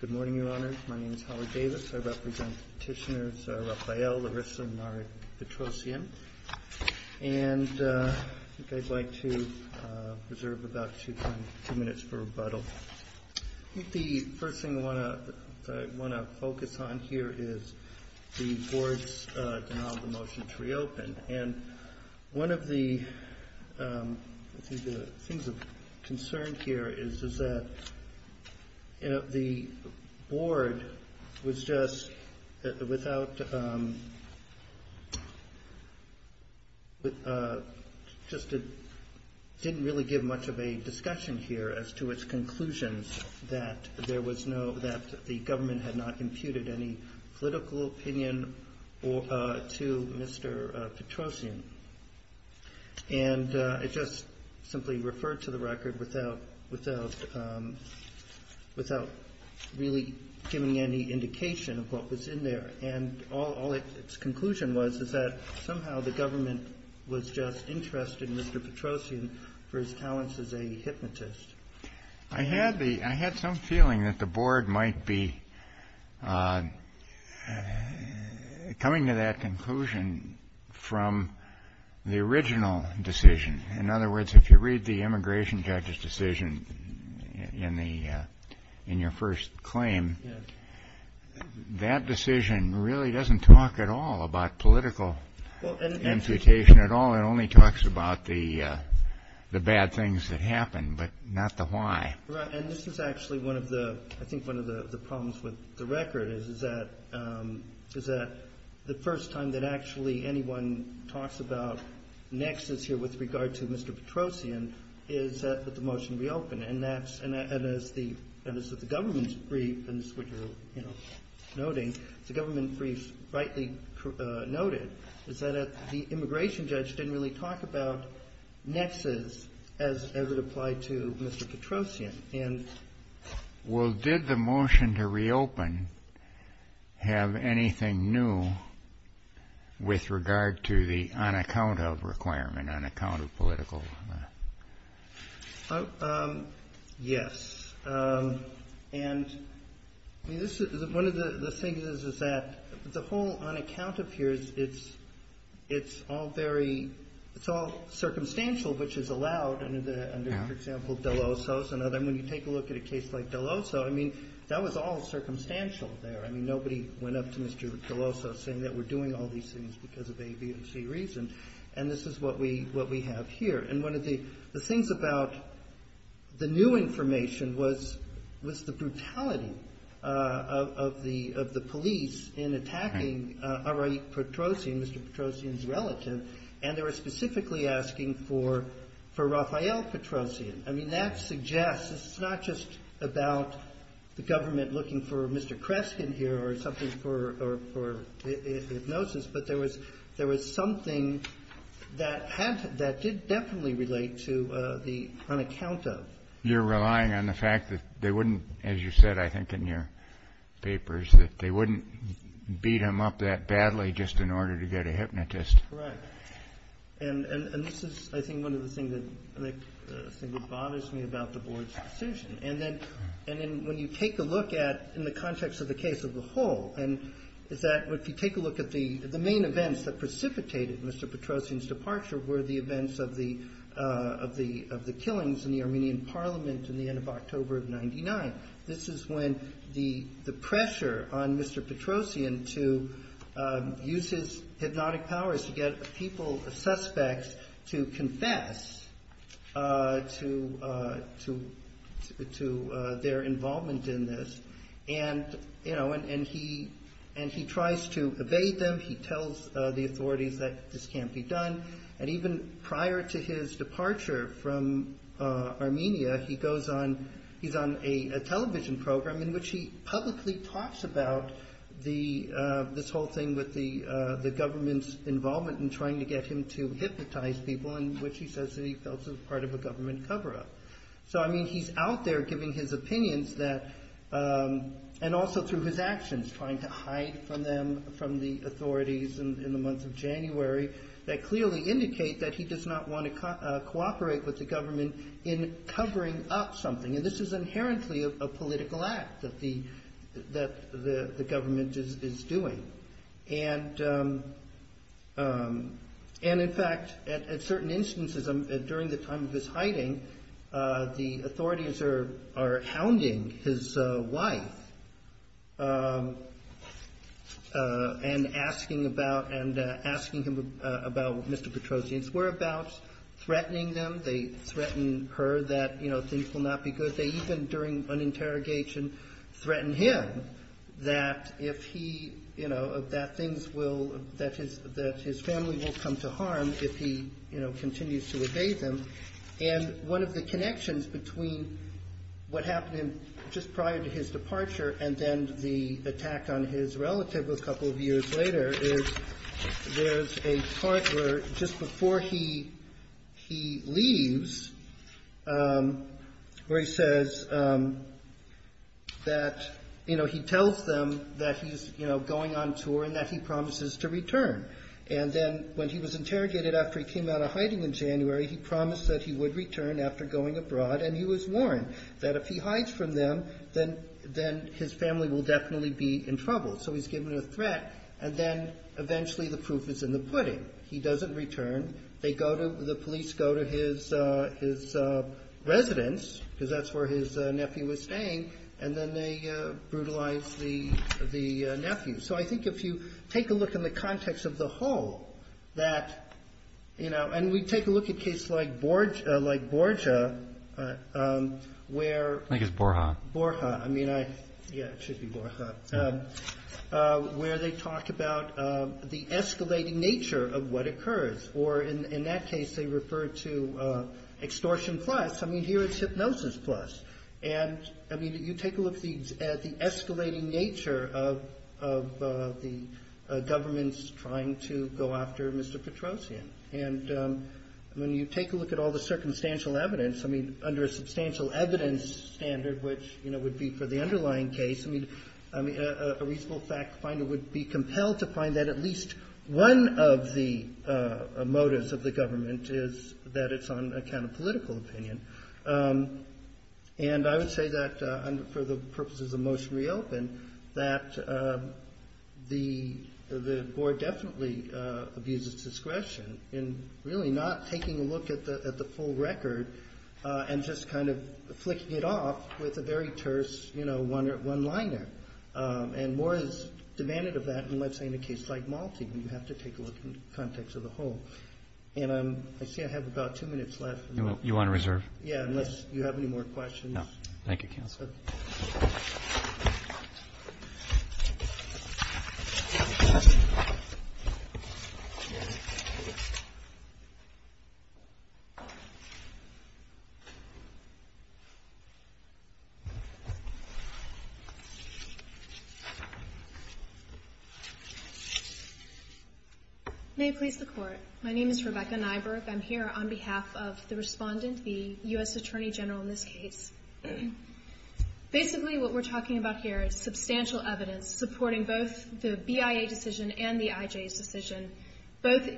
Good morning, Your Honors. My name is Howard Davis. I represent Petitioners Raphael, Larissa, and Nari Petrosyan. And I'd like to reserve about two minutes for rebuttal. I think the first thing I want to focus on here is the board's denial of the motion to reopen. And one of the things of concern here is that the board was just, without, just didn't really give much of a discussion here as to its conclusions that there was no, that the government had not imputed any political opinion to Mr. Petrosyan. And it just simply referred to the record without really giving any indication of what was in there. And all its conclusion was is that somehow the government was just interested in Mr. Petrosyan for his talents as a hypnotist. I had some feeling that the board might be coming to that conclusion from the original decision. In other words, if you read the immigration judge's decision in your first claim, that decision really doesn't talk at all about political imputation at all. It only talks about the bad things that happened, but not the why. Right. And this is actually one of the, I think, one of the problems with the record is that the first time that actually anyone talks about nexus here with regard to Mr. Petrosyan is that the motion reopened. And that's, and as the, and this is the government's brief, and this is what you're, you know, noting, it's a government brief rightly noted, is that the immigration judge didn't really talk about nexus as it applied to Mr. Petrosyan. Well, did the motion to reopen have anything new with regard to the on account of requirement, on account of political? Yes. And this is one of the things is, is that the whole on account of here is it's, it's all very, it's all circumstantial, which is allowed under the, under, for example, Delosos and other. And when you take a look at a case like Delosos, I mean, that was all circumstantial there. I mean, nobody went up to Mr. Delosos saying that we're doing all these things because of A, B, and C reason. And this is what we, what we have here. And one of the, the things about the new information was, was the brutality of the, of the police in attacking Areik Petrosyan, Mr. Petrosyan's relative. And they were specifically asking for, for Rafael Petrosyan. I mean, that suggests it's not just about the government looking for Mr. Kreskin here or something for, for hypnosis, but there was, there was something that had, that did definitely relate to the on account of. You're relying on the fact that they wouldn't, as you said, I think, in your papers, that they wouldn't beat him up that badly just in order to get a hypnotist. Correct. And, and, and this is, I think, one of the things that, that bothers me about the board's decision. And then, and then when you take a look at, in the context of the case of the whole, and is that, if you take a look at the, the main events that precipitated Mr. Petrosyan's departure were the events of the, of the, of the killings in the Armenian parliament in the end of October of 99. This is when the, the pressure on Mr. Petrosyan to use his hypnotic powers to get people, suspects to confess to, to, to their involvement in this. And, you know, and, and he, and he tries to evade them. He tells the authorities that this can't be done. And even prior to his departure from Armenia, he goes on, he's on a television program in which he publicly talks about the, this whole thing with the, the government's involvement in trying to get him to hypnotize people and which he says that he felt was part of a government cover up. So, I mean, he's out there giving his opinions that, and also through his actions, trying to hide from them, from the authorities in, in the month of January that clearly indicate that he does not want to cooperate with the government in covering up something. And this is inherently a political act that the, that the, the government is, is doing. And, and in fact, at, at certain instances during the time of his hiding, the authorities are, are hounding his wife and asking about, and asking him about Mr. Petrosyan's whereabouts, threatening them. They threaten her that, you know, things will not be good. They even, during an interrogation, threaten him that if he, you know, that things will, that his, that his family will come to harm if he, you know, continues to evade them. And one of the connections between what happened just prior to his departure and then the attack on his relative a couple of years later is there's a part where just before he, he leaves where he says that, you know, he tells them that he's, you know, going on tour and that he promises to return. And then when he was interrogated after he came out of hiding in January, he promised that he would return after going abroad. And he was warned that if he hides from them, then, then his family will definitely be in trouble. So he's given a threat. And then eventually the proof is in the pudding. He doesn't return. They go to, the police go to his, his residence because that's where his nephew was staying. And then they brutalized the, the nephew. So I think if you take a look in the context of the whole, that, you know, and we take a look at case like Borgia, like Borgia, where, I guess Borja, Borja, I mean, I, yeah, it should be Borja, where they talk about the escalating nature of what occurs. Or in, in that case, they refer to extortion plus. I mean, here it's hypnosis plus, and I mean, you take a look at the escalating nature of, of the governments trying to go after Mr. Petrosian. And when you take a look at all the circumstantial evidence, I mean, under a substantial evidence standard, which, you know, would be for the underlying case, I mean, I, a reasonable fact finder would be compelled to find that at least one of the, of the, you know, the, the, the, the people who are behind the, the, the legal experts are the ones who, who are actually the persons behind the abuse. The motives of the government is that it's on account of political opinion. And I would say that for the purposes of motion reopen, that the, the board definitely abuses discretion in really not taking a look at the, at the full record and just kind of flicking it off with a very terse, you know, one, one liner. And more is demanded of that in, let's say, in a case like Malta. You have to take a look in context of the whole. And I'm, I see I have about two minutes left. You want to reserve? Yeah, unless you have any more questions. No. Thank you, counsel. May it please the court. My name is Rebecca Nyberg. I'm here on behalf of the respondent, the U.S. Attorney General in this case. Basically, what we're talking about here is substantial evidence supporting both the BIA decision and the IJ's decision, both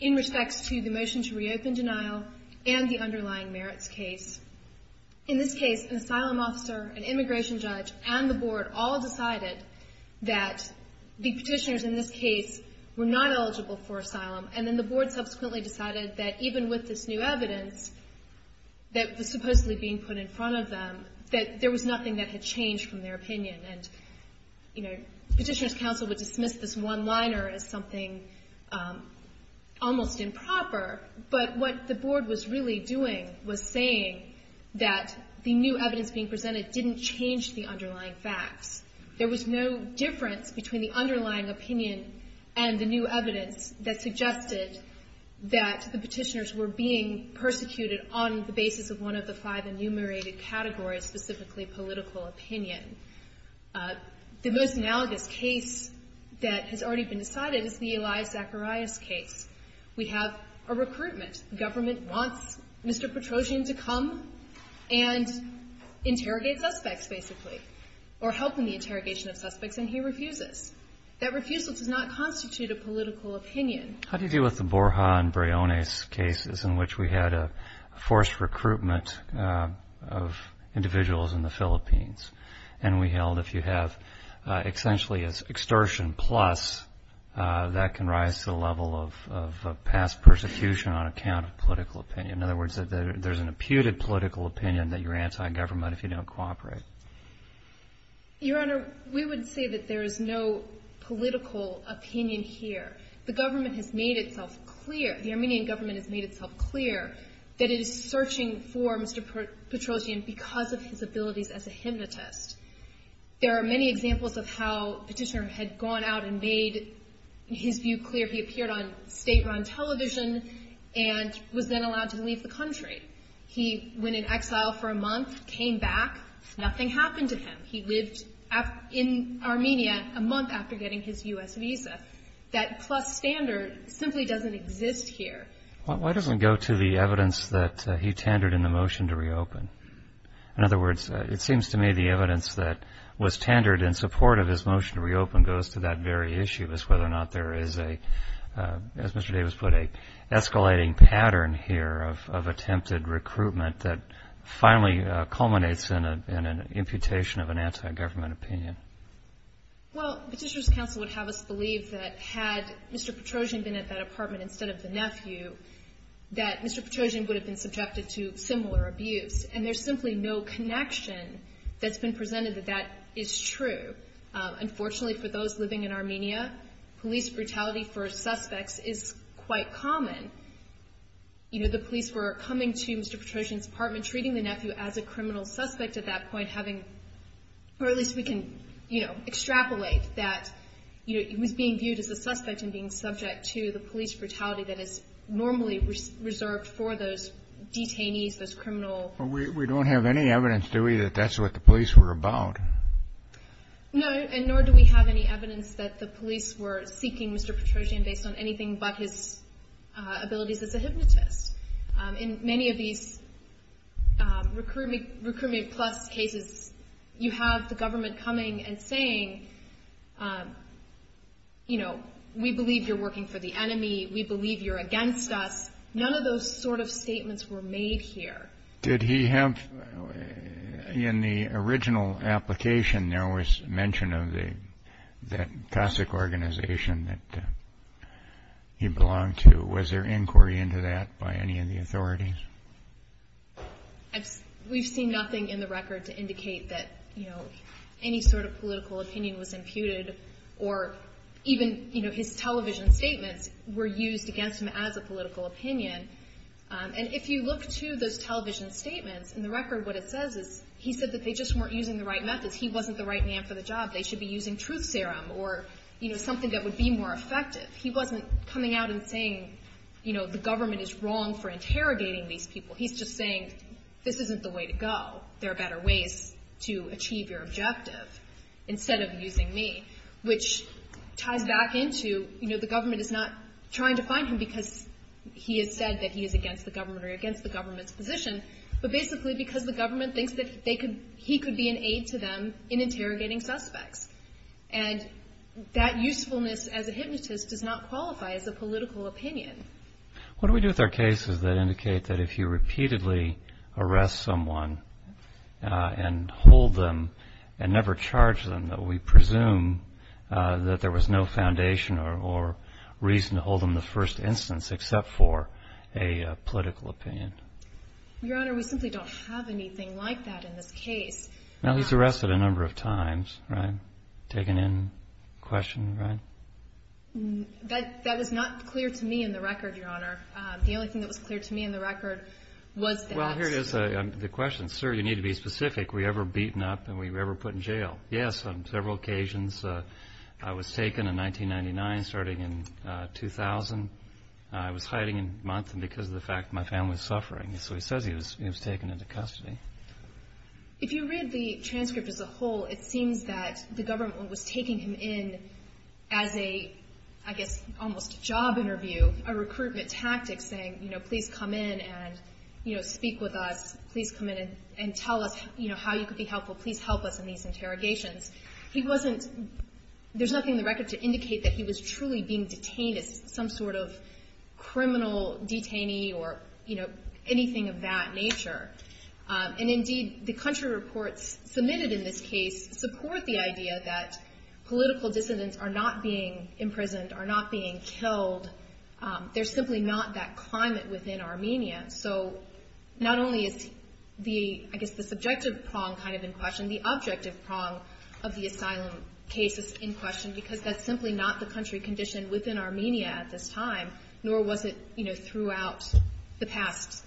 in respects to the motion to reopen denial and the underlying merits case. In this case, an asylum officer, an immigration judge, and the board all decided that the petitioners in this case were not eligible for asylum. And then the board subsequently decided that even with this new evidence that was supposedly being put in front of them, that there was nothing that had changed from their opinion. And, you know, petitioner's counsel would dismiss this one liner as something almost improper. But what the board was really doing was saying that the new evidence being presented didn't change the underlying facts. There was no difference between the underlying opinion and the new evidence that suggested that the petitioners were being persecuted on the basis of one of the five enumerated categories, specifically political opinion. The most analogous case that has already been decided is the Eli Zacharias case. We have a recruitment. The government wants Mr. Petrosian to come and interrogate suspects, basically, or help in the interrogation of suspects, and he refuses. That refusal does not constitute a political opinion. How do you deal with the Borja and Briones cases in which we had a forced recruitment of individuals in the Philippines? And we held if you have essentially an extortion plus, that can rise to the level of past persecution on account of political opinion. In other words, there's an imputed political opinion that you're anti-government if you don't cooperate. Your Honor, we would say that there is no political opinion here. The government has made itself clear, the Armenian government has made itself clear, that it is searching for Mr. Petrosian because of his abilities as a hypnotist. There are many examples of how petitioner had gone out and made his view clear. He appeared on state-run television and was then allowed to leave the country. He went in exile for a month, came back, nothing happened to him. He lived in Armenia a month after getting his U.S. visa. That plus standard simply doesn't exist here. Why doesn't it go to the evidence that he tendered in the motion to reopen? In other words, it seems to me the evidence that was tendered in support of his motion to reopen goes to that very issue, as whether or not there is a, as Mr. Davis put it, escalating pattern here of attempting to reopen. It seems to me that there is an imputed recruitment that finally culminates in an imputation of an anti-government opinion. Well, Petitioner's Counsel would have us believe that had Mr. Petrosian been at that apartment instead of the nephew, that Mr. Petrosian would have been subjected to similar abuse. And there's simply no connection that's been presented that that is true. Unfortunately for those living in Armenia, police brutality for suspects is quite common. You know, the police were coming to Mr. Petrosian's apartment, treating the nephew as a criminal suspect at that point, having, or at least we can, you know, extrapolate that he was being viewed as a suspect and being subject to the police brutality that is normally reserved for those detainees, those criminal. We don't have any evidence, do we, that that's what the police were about? No, and nor do we have any evidence that the police were seeking Mr. Petrosian based on anything but his abilities as a hypnotist. In many of these Recruitment Plus cases, you have the government coming and saying, you know, we believe you're working for the enemy, we believe you're against us. None of those sort of statements were made here. Did he have, in the original application, there was mention of that classic organization that he belonged to. Was there inquiry into that by any of the authorities? We've seen nothing in the record to indicate that, you know, any sort of political opinion was imputed, or even, you know, his television statements were used against him as a political opinion. And if you look to those television statements, in the record what it says is he said that they just weren't using the right methods, he wasn't the right man for the job, they should be using truth serum or, you know, something that would be more effective. He wasn't coming out and saying, you know, the government is wrong for interrogating these people. He's just saying, this isn't the way to go. There are better ways to achieve your objective instead of using me, which ties back into, you know, the government is not trying to find him because he has said, you know, he's not the right man for the job. He hasn't said that he is against the government or against the government's position, but basically because the government thinks that he could be an aid to them in interrogating suspects. And that usefulness, as a hypnotist, does not qualify as a political opinion. What do we do with our cases that indicate that if you repeatedly arrest someone and hold them and never charge them, that we presume that there was no foundation or reason to hold them the first instance, except for, you know, the fact that he's a hypnotist? Your Honor, we simply don't have anything like that in this case. Well, he's arrested a number of times, right? Taken in, questioned, right? That was not clear to me in the record, Your Honor. The only thing that was clear to me in the record was that. Well, here it is, the question. Sir, you need to be specific. Were you ever beaten up and were you ever put in jail? Yes, on several occasions. I was taken in 1999, starting in 2000. I was hiding in Vermont because of the fact that my family was suffering. So he says he was taken into custody. If you read the transcript as a whole, it seems that the government was taking him in as a, I guess, almost a job interview, a recruitment tactic, saying, you know, please come in and, you know, speak with us. Please come in and tell us, you know, how you could be helpful. Please help us in these interrogations. He wasn't, there's nothing in the record to indicate that he was truly being detained as some sort of criminal detainee or, you know, anything of that nature. And indeed, the country reports submitted in this case support the idea that political dissidents are not being imprisoned, are not being killed. They're simply not that climate within Armenia. So not only is the, I guess, the subjective prong kind of in question, the objective prong of the asylum case is in question because that's simply not the country condition within Armenia at this time, nor was it, you know, throughout the past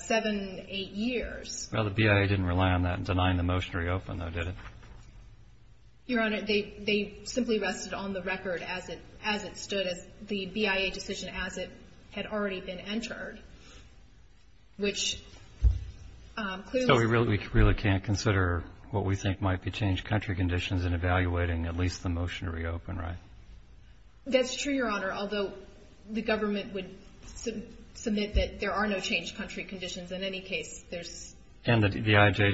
seven, eight years. Well, the BIA didn't rely on that in denying the motion to reopen, though, did it? Your Honor, they simply rested on the record as it stood, as the BIA decision as it had already been entered. So we really can't consider what we think might be changed country conditions in evaluating at least the motion to reopen, right? That's true, Your Honor, although the government would submit that there are no changed country conditions in any case. And the IJ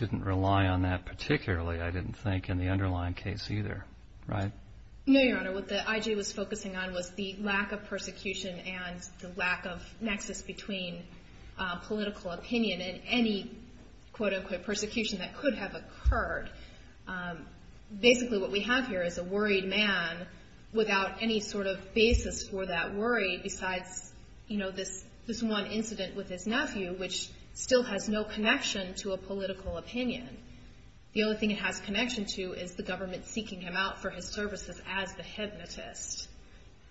didn't rely on that particularly, I didn't think, in the underlying case either, right? No, Your Honor. I mean, I don't think that there's a difference between political opinion and any, quote-unquote, persecution that could have occurred. Basically, what we have here is a worried man without any sort of basis for that worry besides, you know, this one incident with his nephew, which still has no connection to a political opinion. The only thing it has connection to is the government seeking him out for his services as the hypnotist.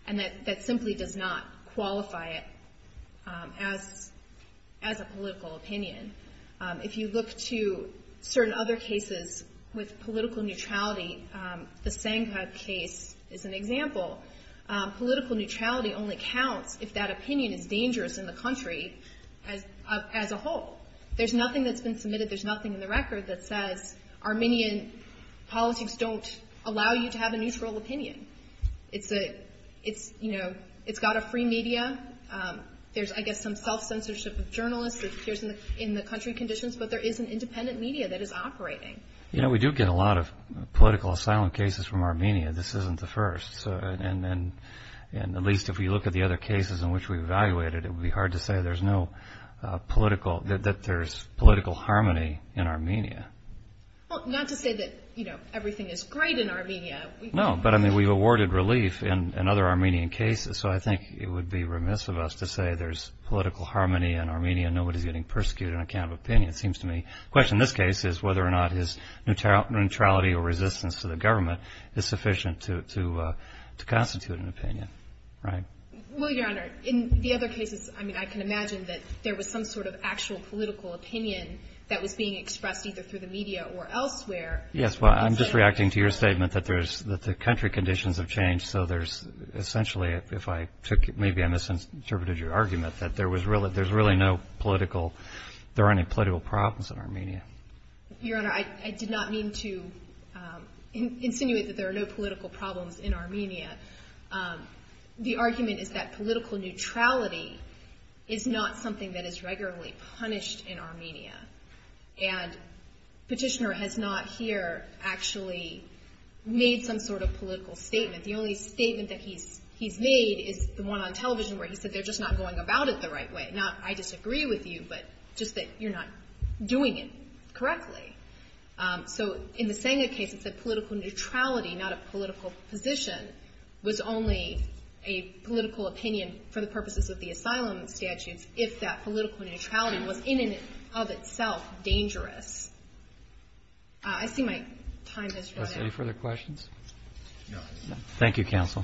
And that simply does not qualify it as a political opinion. If you look to certain other cases with political neutrality, the Sankhab case is an example. Political neutrality only counts if that opinion is dangerous in the country as a whole. There's nothing that's been submitted, there's nothing in the record that says Armenian politics don't allow you to have a neutral opinion. It's, you know, it's got a free media. There's, I guess, some self-censorship of journalists that appears in the country conditions, but there is an independent media that is operating. You know, we do get a lot of political asylum cases from Armenia. This isn't the first. And at least if we look at the other cases in which we evaluated, it would be hard to say there's no political, that there's political harmony in Armenia. Well, not to say that, you know, everything is great in Armenia. No, but I mean, we've awarded relief in other Armenian cases. So I think it would be remiss of us to say there's political harmony in Armenia and nobody's getting persecuted on account of opinion, it seems to me. The question in this case is whether or not his neutrality or resistance to the government is sufficient to constitute an opinion. Right? Well, Your Honor, in the other cases, I mean, I can imagine that there was some sort of actual political opinion that was being expressed either through the media or elsewhere. Yes, well, I'm just reacting to your statement that there's, that the country conditions have changed. So there's essentially, if I took, maybe I misinterpreted your argument, that there was really, there's really no political, there aren't any political problems in Armenia. Your Honor, I did not mean to insinuate that there are no political problems in Armenia. The argument is that political neutrality is not something that is regularly punished in Armenia. And Petitioner has not here actually made some sort of political statement. The only statement that he's made is the one on television where he said they're just not going about it the right way. Not I disagree with you, but just that you're not doing it correctly. So in the Senga case, it said political neutrality, not a political position, was only a political opinion for the purposes of the asylum statutes if that political neutrality was in and of itself dangerous. Any further questions? No. Thank you, Counsel.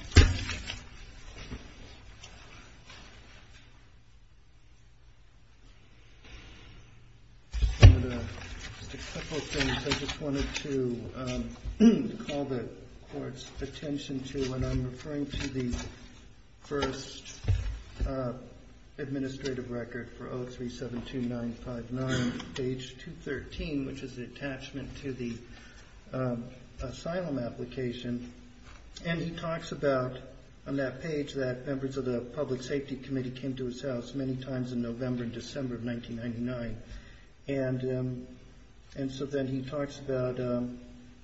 Just a couple of things I just wanted to call the Court's attention to when I'm referring to the first administrative record for 0372959, page 213, which is an attachment to the asylum application. And he talks about on that page that members of the Public Safety Committee came to his house many times in November and December of 1999. And so then he talks about,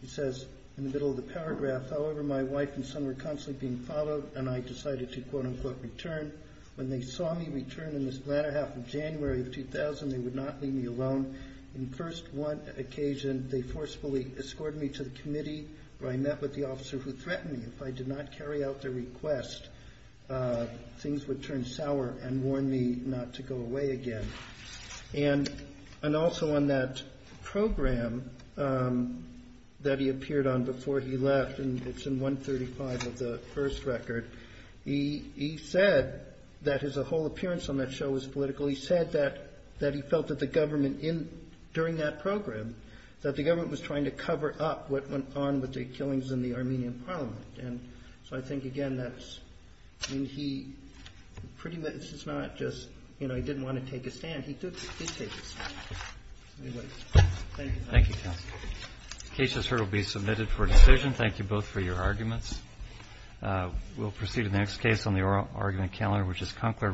he says in the middle of the paragraph, however, my wife and son were constantly being followed and I decided to, quote unquote, return. When they saw me return in this latter half of January of 2000, they would not leave me alone. In the first one occasion, they forcefully escorted me to the committee where I met with the officer who threatened me. If I did not carry out their request, things would turn sour and warn me not to go away again. And also on that program that he appeared on before he left, and it's in 135 of the first record, he said, that his whole appearance on that show was political. He said that he felt that the government in, during that program, that the government was trying to cover up what went on with the killings in the Armenian parliament. And so I think, again, that's, I mean, he pretty much, it's not just, you know, he didn't want to take a stand. He did take a stand. Anyway, thank you. Roberts. Thank you, Counsel. The case, as heard, will be submitted for decision. Thank you both for your arguments. We'll proceed to the next case on the argument calendar, which is Kunkler v. Muntz.